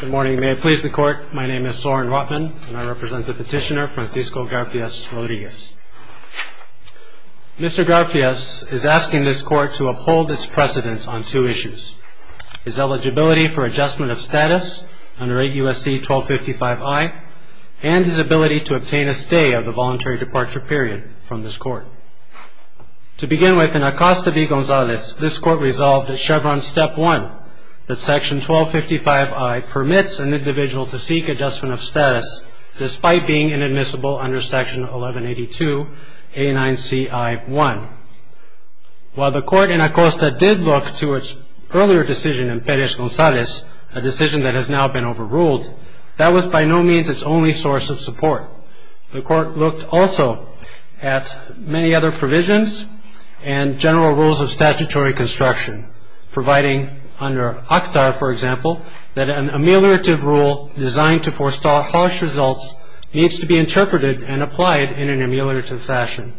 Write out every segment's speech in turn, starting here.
Good morning. May it please the Court, my name is Soren Rotman, and I represent the petitioner Francisco Garfias-Rodriguez. Mr. Garfias is asking this Court to uphold its precedence on two issues, his eligibility for adjustment of status under 8 U.S.C. 1255i, and his ability to obtain a stay of the voluntary departure period from this Court. To begin with, in Acosta v. Gonzalez, this Court resolved at Chevron Step 1 that Section 1255i permits an individual to seek adjustment of status, despite being inadmissible under Section 1182.89c.i.1. While the Court in Acosta did look to its earlier decision in Perez-Gonzalez, a decision that has now been overruled, that was by no means its only source of support. The Court looked also at many other provisions and general rules of statutory construction, providing under OCTAR, for example, that an ameliorative rule designed to forestall harsh results needs to be interpreted and applied in an ameliorative fashion.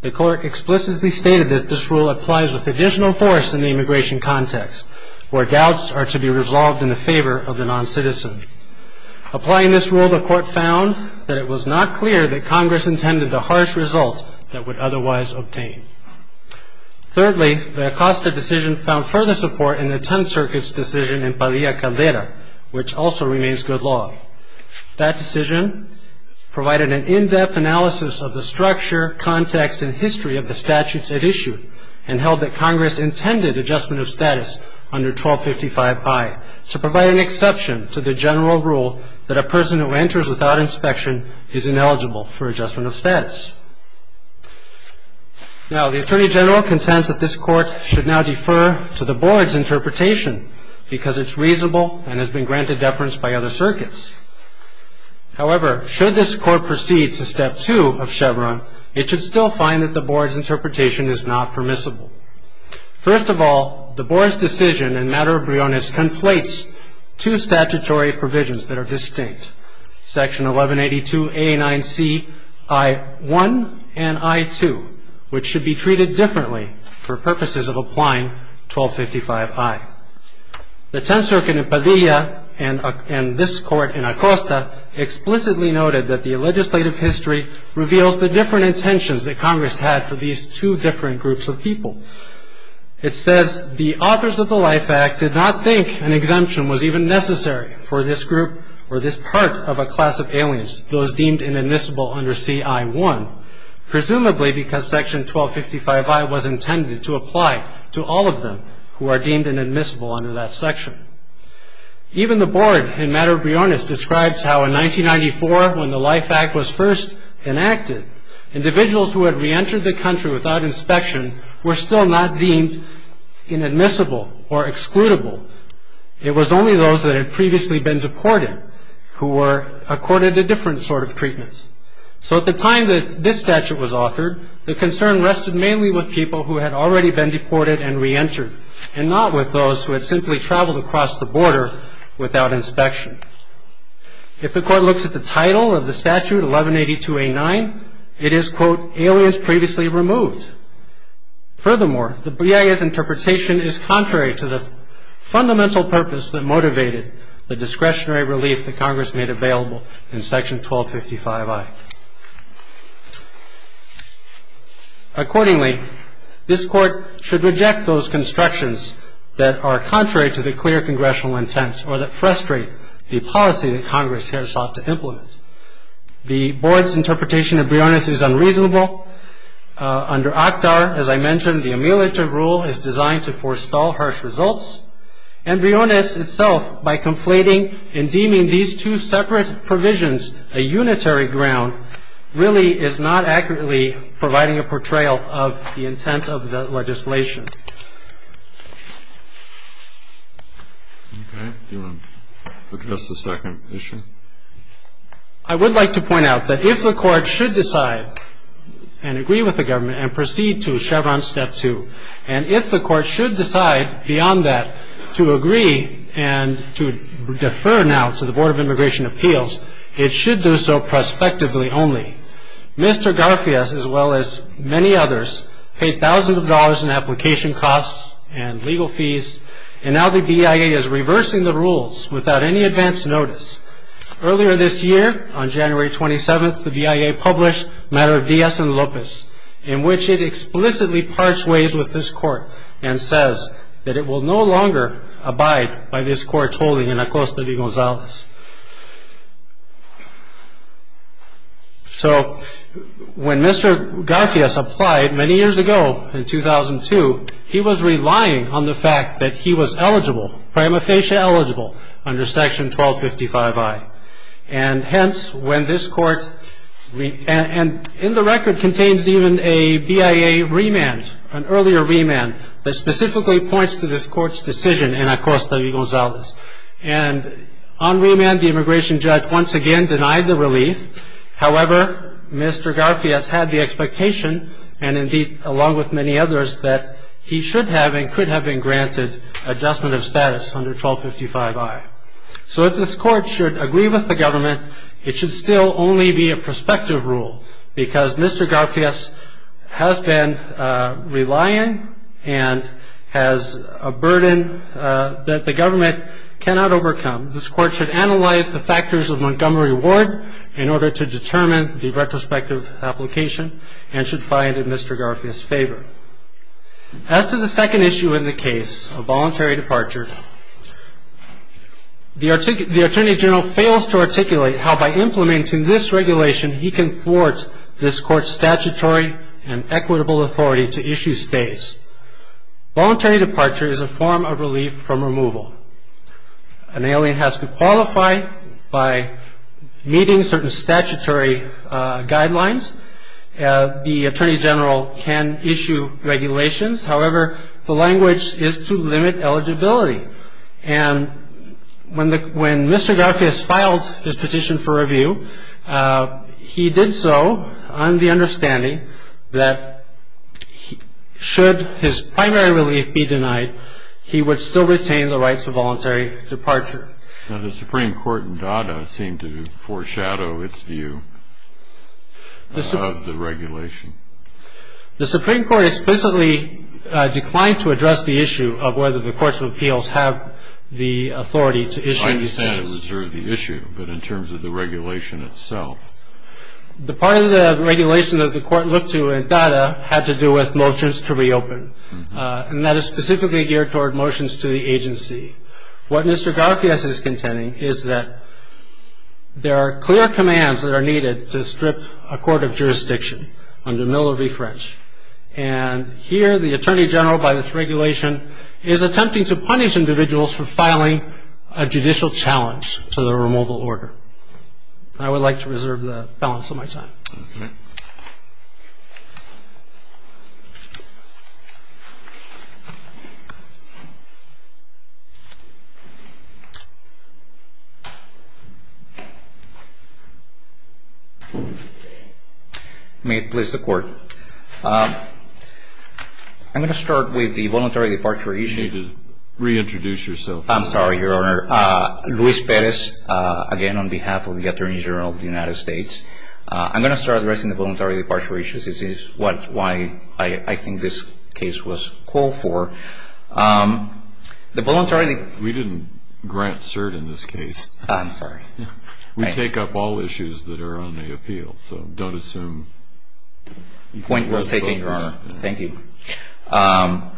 The Court explicitly stated that this rule applies with additional force in the immigration context, where doubts are to be resolved in the favor of the non-citizen. Applying this rule, the Court found that it was not clear that Congress intended the harsh result that would otherwise obtain. Thirdly, the Acosta decision found further support in the Tenth Circuit's decision in Padilla-Caldera, which also remains good law. That decision provided an in-depth analysis of the structure, context, and history of the statutes it issued, and held that Congress intended adjustment of status under 1255i to provide an exception to the general rule that a person who enters without inspection is ineligible for adjustment of status. Now, the Attorney General contends that this Court should now defer to the Board's interpretation because it's reasonable and has been granted deference by other circuits. However, should this Court proceed to Step 2 of Chevron, it should still find that the Board's interpretation is not permissible. First of all, the Board's decision in matter briones conflates two statutory provisions that are distinct, Section 1182A9C I1 and I2, which should be treated differently for purposes of applying 1255i. The Tenth Circuit in Padilla and this Court in Acosta explicitly noted that the legislative history reveals the different intentions that Congress had for these two different groups of people. It says, the authors of the Life Act did not think an exemption was even necessary for this group or this part of a class of aliens, those deemed inadmissible under CI1, presumably because Section 1255i was intended to apply to all of them who are deemed inadmissible under that section. Even the Board in matter briones describes how in 1994, when the Life Act was first enacted, individuals who had reentered the country without inspection were still not deemed inadmissible or excludable. It was only those that had previously been deported who were accorded a different sort of treatment. So at the time that this statute was authored, the concern rested mainly with people who had already been deported and reentered and not with those who had simply traveled across the border without inspection. If the Court looks at the title of the statute, 1182A9, it is, quote, aliens previously removed. Furthermore, the BIA's interpretation is contrary to the fundamental purpose that motivated the discretionary relief that Congress made available in Section 1255i. Accordingly, this Court should reject those constructions that are contrary to the clear congressional intent or that frustrate the policy that Congress here sought to implement. The Board's interpretation of briones is unreasonable. Under ACTAR, as I mentioned, the ameliorative rule is designed to forestall harsh results, and briones itself, by conflating and deeming these two separate provisions a unitary ground, really is not accurately providing a portrayal of the intent of the legislation. Okay. Do you want to address the second issue? I would like to point out that if the Court should decide and agree with the government and proceed to Chevron Step 2, and if the Court should decide beyond that to agree and to defer now to the Board of Immigration Appeals, it should do so prospectively only. Mr. Garfias, as well as many others, paid thousands of dollars in application costs and legal fees, and now the BIA is reversing the rules without any advance notice. Earlier this year, on January 27th, the BIA published a matter of dies in lopos, in which it explicitly parts ways with this Court, and says that it will no longer abide by this Court's holding in Acosta de Gonzalez. So, when Mr. Garfias applied many years ago, in 2002, he was relying on the fact that he was eligible, prima facie eligible, under Section 1255I. And hence, when this Court, and in the record contains even a BIA remand, an earlier remand, that specifically points to this Court's decision in Acosta de Gonzalez. And on remand, the immigration judge once again denied the relief. However, Mr. Garfias had the expectation, and indeed, along with many others, that he should have and could have been granted adjustment of status under 1255I. So, if this Court should agree with the government, it should still only be a prospective rule, because Mr. Garfias has been relying and has a burden that the government cannot overcome. This Court should analyze the factors of Montgomery Ward, in order to determine the retrospective application, and should find in Mr. Garfias' favor. As to the second issue in the case of voluntary departure, the Attorney General fails to articulate how, by implementing this regulation, he can thwart this Court's statutory and equitable authority to issue stays. Voluntary departure is a form of relief from removal. An alien has to qualify by meeting certain statutory guidelines. The Attorney General can issue regulations. However, the language is to limit eligibility. And when Mr. Garfias filed his petition for review, he did so on the understanding that, should his primary relief be denied, he would still retain the rights of voluntary departure. Now, the Supreme Court in Dada seemed to foreshadow its view of the regulation. The Supreme Court explicitly declined to address the issue of whether the Courts of Appeals have the authority to issue stays. I understand it was sort of the issue, but in terms of the regulation itself? The part of the regulation that the Court looked to in Dada had to do with motions to reopen. And that is specifically geared toward motions to the agency. What Mr. Garfias is contending is that there are clear commands that are needed to strip a court of jurisdiction under Miller v. French. And here, the Attorney General, by this regulation, is attempting to punish individuals for filing a judicial challenge to the removal order. I would like to reserve the balance of my time. Okay. May it please the Court. I'm going to start with the voluntary departure issue. You need to reintroduce yourself. I'm sorry, Your Honor. Luis Perez, again on behalf of the Attorney General of the United States. I'm going to start addressing the voluntary departure issues. This is why I think this case was called for. The voluntary departure. We didn't grant cert in this case. I'm sorry. We take up all issues that are on the appeal, so don't assume. Point well taken, Your Honor. Thank you. The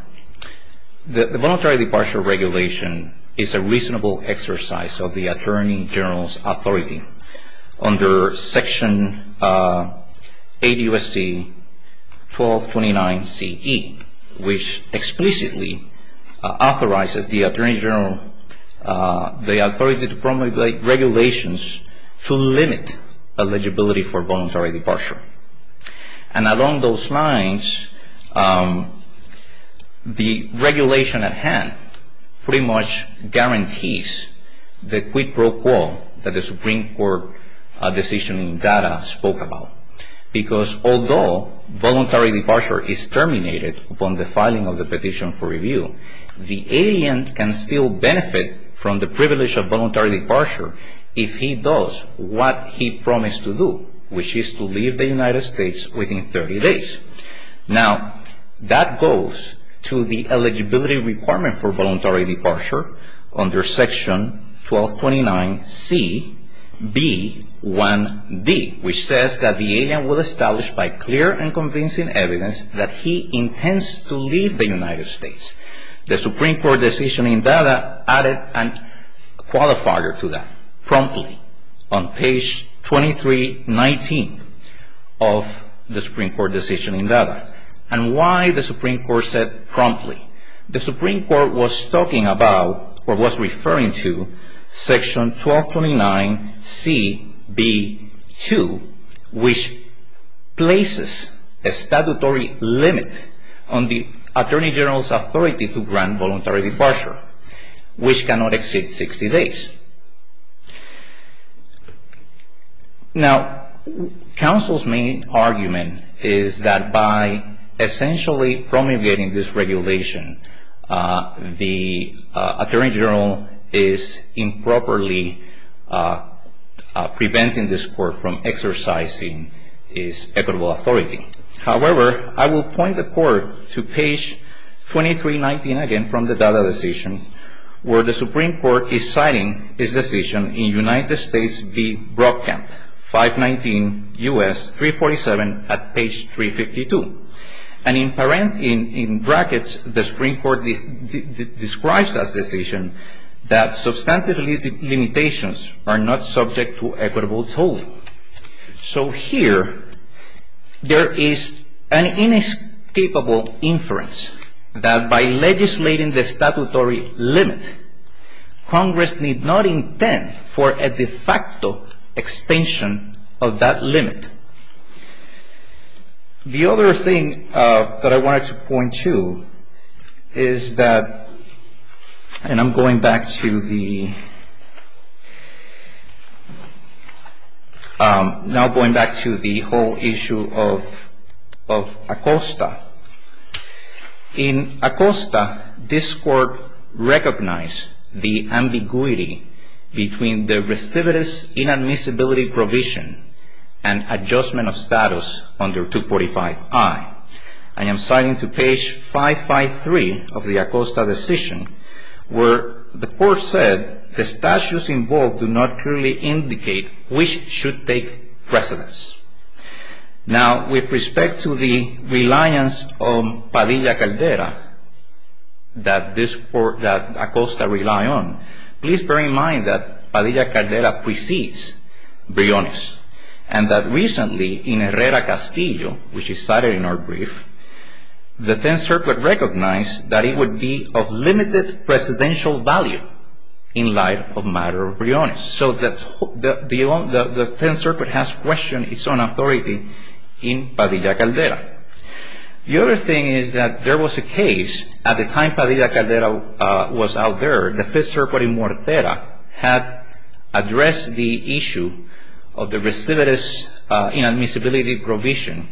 voluntary departure regulation is a reasonable exercise of the Attorney General's authority. Under Section 80 U.S.C. 1229 C.E., which explicitly authorizes the Attorney General the authority to promulgate regulations to limit eligibility for voluntary departure. And along those lines, the regulation at hand pretty much guarantees the quid pro quo that the Supreme Court decision in GATTA spoke about. Because although voluntary departure is terminated upon the filing of the petition for review, the alien can still benefit from the privilege of voluntary departure if he does what he promised to do, which is to leave the United States within 30 days. Now, that goes to the eligibility requirement for voluntary departure under Section 1229 C.B.1.D., which says that the alien will establish by clear and convincing evidence that he intends to leave the United States. The Supreme Court decision in GATTA added a qualifier to that promptly. On page 2319 of the Supreme Court decision in GATTA. And why the Supreme Court said promptly? The Supreme Court was talking about, or was referring to, Section 1229 C.B.2, which places a statutory limit on the Attorney General's authority to grant voluntary departure, which cannot exceed 60 days. Now, counsel's main argument is that by essentially promulgating this regulation, the Attorney General is improperly preventing this Court from exercising its equitable authority. However, I will point the Court to page 2319 again from the GATTA decision, where the Supreme Court is citing its decision in United States v. Brockamp, 519 U.S. 347 at page 352. And in brackets, the Supreme Court describes that decision that substantive limitations are not subject to equitable toll. So here, there is an inescapable inference that by legislating the statutory limit, Congress need not intend for a de facto extension of that limit. The other thing that I wanted to point to is that, and I'm going back to the whole issue of ACOSTA. In ACOSTA, this Court recognized the ambiguity between the recidivist inadmissibility provision and adjustment of status under 245I. And I'm citing to page 553 of the ACOSTA decision, where the Court said, the statutes involved do not clearly indicate which should take precedence. Now, with respect to the reliance on Padilla-Caldera that ACOSTA rely on, please bear in mind that Padilla-Caldera precedes Briones. And that recently, in Herrera-Castillo, which is cited in our brief, the Tenth Circuit recognized that it would be of limited presidential value in light of matter of Briones. So the Tenth Circuit has questioned its own authority in Padilla-Caldera. The other thing is that there was a case at the time Padilla-Caldera was out there, the Fifth Circuit in Mortera, had addressed the issue of the recidivist inadmissibility provision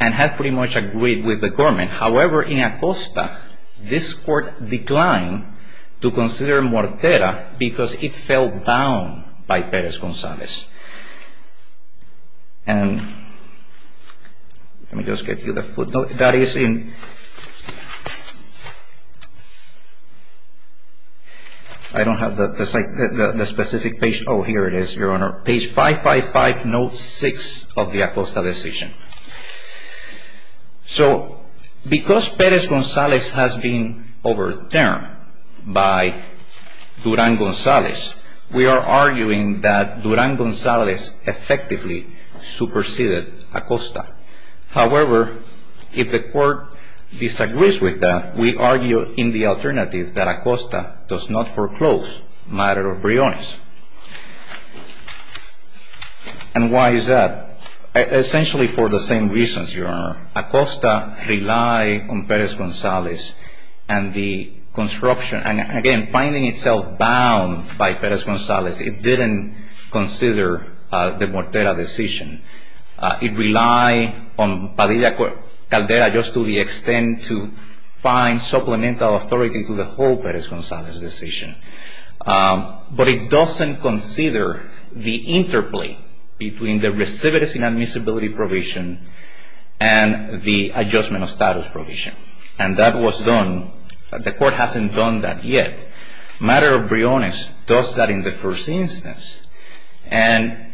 and had pretty much agreed with the government. However, in ACOSTA, this Court declined to consider Mortera because it fell down by Perez-González. And let me just get you the footnote. That is in, I don't have the specific page. Oh, here it is, Your Honor. Page 555, note 6 of the ACOSTA decision. So because Perez-González has been overturned by Durán-González, we are arguing that Durán-González effectively superseded ACOSTA. However, if the Court disagrees with that, we argue in the alternative that ACOSTA does not foreclose matter of Briones. And why is that? Essentially for the same reasons, Your Honor. ACOSTA relied on Perez-González and the construction, and again, finding itself bound by Perez-González, it didn't consider the Mortera decision. It relied on Padilla-Caldera just to the extent to find supplemental authority to the whole Perez-González decision. But it doesn't consider the interplay between the recidivist inadmissibility provision and the adjustment of status provision. And that was done. The Court hasn't done that yet. Matter of Briones does that in the first instance. And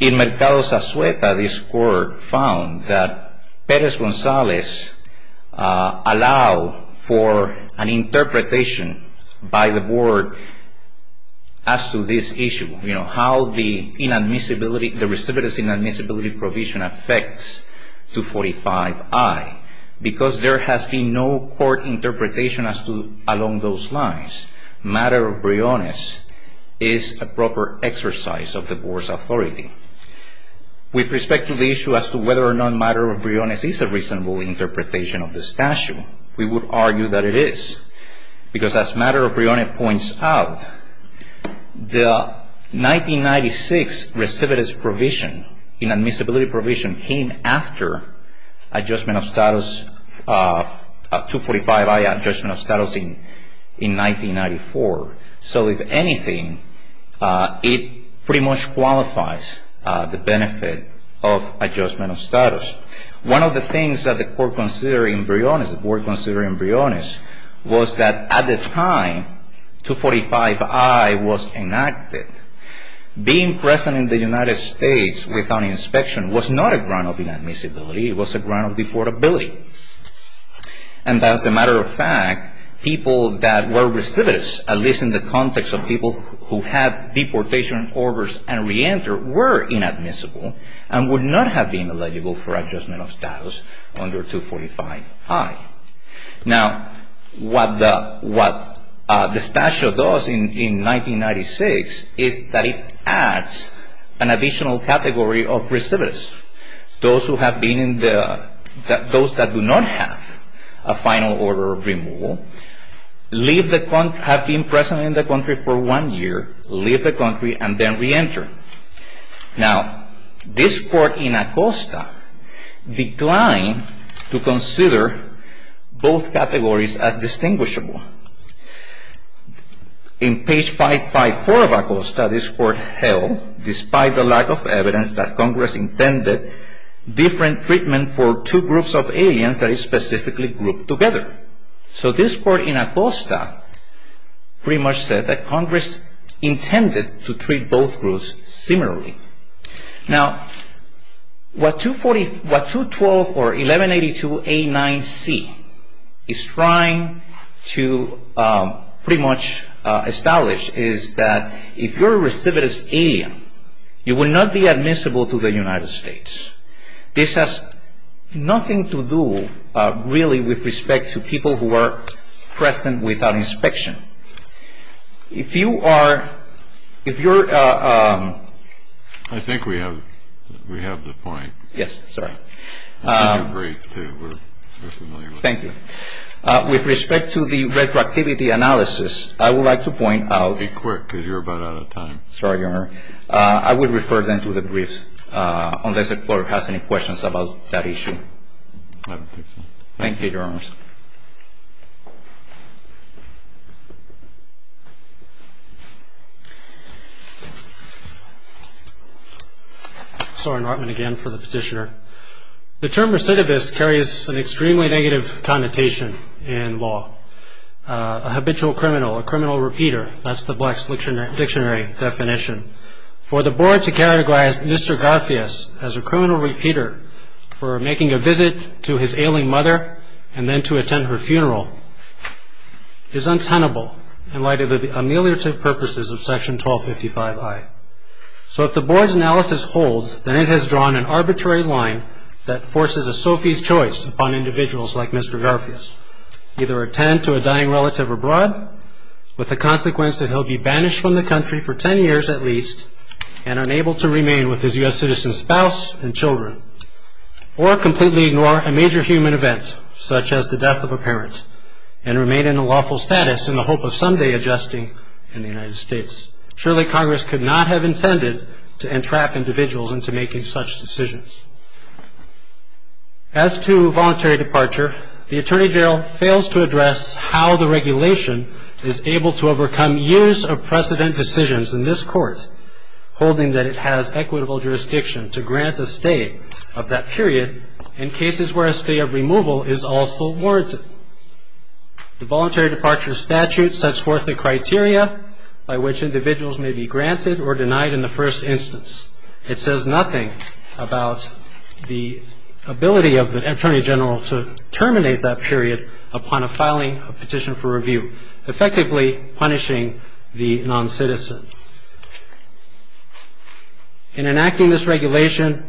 in Mercado Sasueta, this Court found that Perez-González allowed for an interpretation by the Board as to this issue, you know, how the recidivist inadmissibility provision affects 245I because there has been no court interpretation as to along those lines. Matter of Briones is a proper exercise of the Board's authority. With respect to the issue as to whether or not matter of Briones is a reasonable interpretation of the statute, we would argue that it is. Because as matter of Briones points out, the 1996 recidivist provision, inadmissibility provision, came after adjustment of status, 245I adjustment of status in 1994. So if anything, it pretty much qualifies the benefit of adjustment of status. One of the things that the Court considered in Briones, the Board considered in Briones, was that at the time 245I was enacted, being present in the United States without inspection was not a ground of inadmissibility. It was a ground of deportability. And as a matter of fact, people that were recidivists, at least in the context of people who had deportation orders and reentered, were inadmissible and would not have been eligible for adjustment of status under 245I. Now, what the statute does in 1996 is that it adds an additional category of recidivists. Those that do not have a final order of removal, have been present in the country for one year, leave the country and then reenter. Now, this Court in Acosta declined to consider both categories as distinguishable. In page 554 of Acosta, this Court held, despite the lack of evidence that Congress intended, different treatment for two groups of aliens that is specifically grouped together. So this Court in Acosta pretty much said that Congress intended to treat both groups similarly. Now, what 212 or 1182A9C is trying to pretty much establish is that if you're a recidivist alien, you will not be admissible to the United States. This has nothing to do really with respect to people who are present without inspection. If you are ‑‑ if you're ‑‑ I think we have the point. Yes, sorry. I think you're great, too. We're familiar with that. Thank you. With respect to the retroactivity analysis, I would like to point out ‑‑ Be quick, because you're about out of time. Sorry, Your Honor. I would refer them to the briefs unless the Court has any questions about that issue. I don't think so. Thank you, Your Honors. Sorry, Norman, again, for the petitioner. The term recidivist carries an extremely negative connotation in law. A habitual criminal, a criminal repeater, that's the black dictionary definition. For the Board to categorize Mr. Garfias as a criminal repeater for making a visit to his ailing mother and then to attend her funeral is untenable in light of the ameliorative purposes of Section 1255I. So if the Board's analysis holds, then it has drawn an arbitrary line that forces a Sophie's choice upon individuals like Mr. Garfias, either attend to a dying relative abroad, with the consequence that he'll be banished from the country for ten years at least and unable to remain with his U.S. citizen spouse and children, or completely ignore a major human event, such as the death of a parent, and remain in a lawful status in the hope of someday adjusting in the United States. Surely Congress could not have intended to entrap individuals into making such decisions. As to voluntary departure, the Attorney General fails to address how the regulation is able to overcome years of precedent decisions in this Court, holding that it has equitable jurisdiction to grant a stay of that period in cases where a stay of removal is also warranted. The Voluntary Departure Statute sets forth the criteria by which individuals may be granted or denied in the first instance. It says nothing about the ability of the Attorney General to terminate that period upon a filing of petition for review, effectively punishing the noncitizen. In enacting this regulation,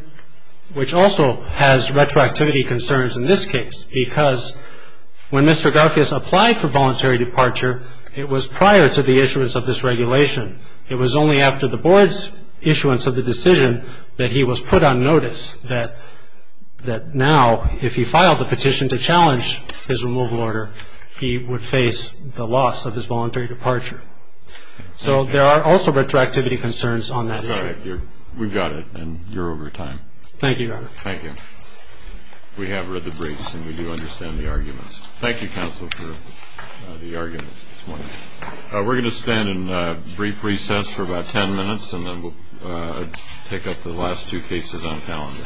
which also has retroactivity concerns in this case, because when Mr. Garfias applied for voluntary departure, it was prior to the issuance of this regulation. It was only after the Board's issuance of the decision that he was put on notice that now, if he filed the petition to challenge his removal order, he would face the loss of his voluntary departure. So there are also retroactivity concerns on that issue. All right. We've got it, and you're over time. Thank you, Your Honor. Thank you. We have read the briefs, and we do understand the arguments. Thank you, counsel, for the arguments this morning. We're going to stand in brief recess for about ten minutes, and then we'll pick up the last two cases on the calendar.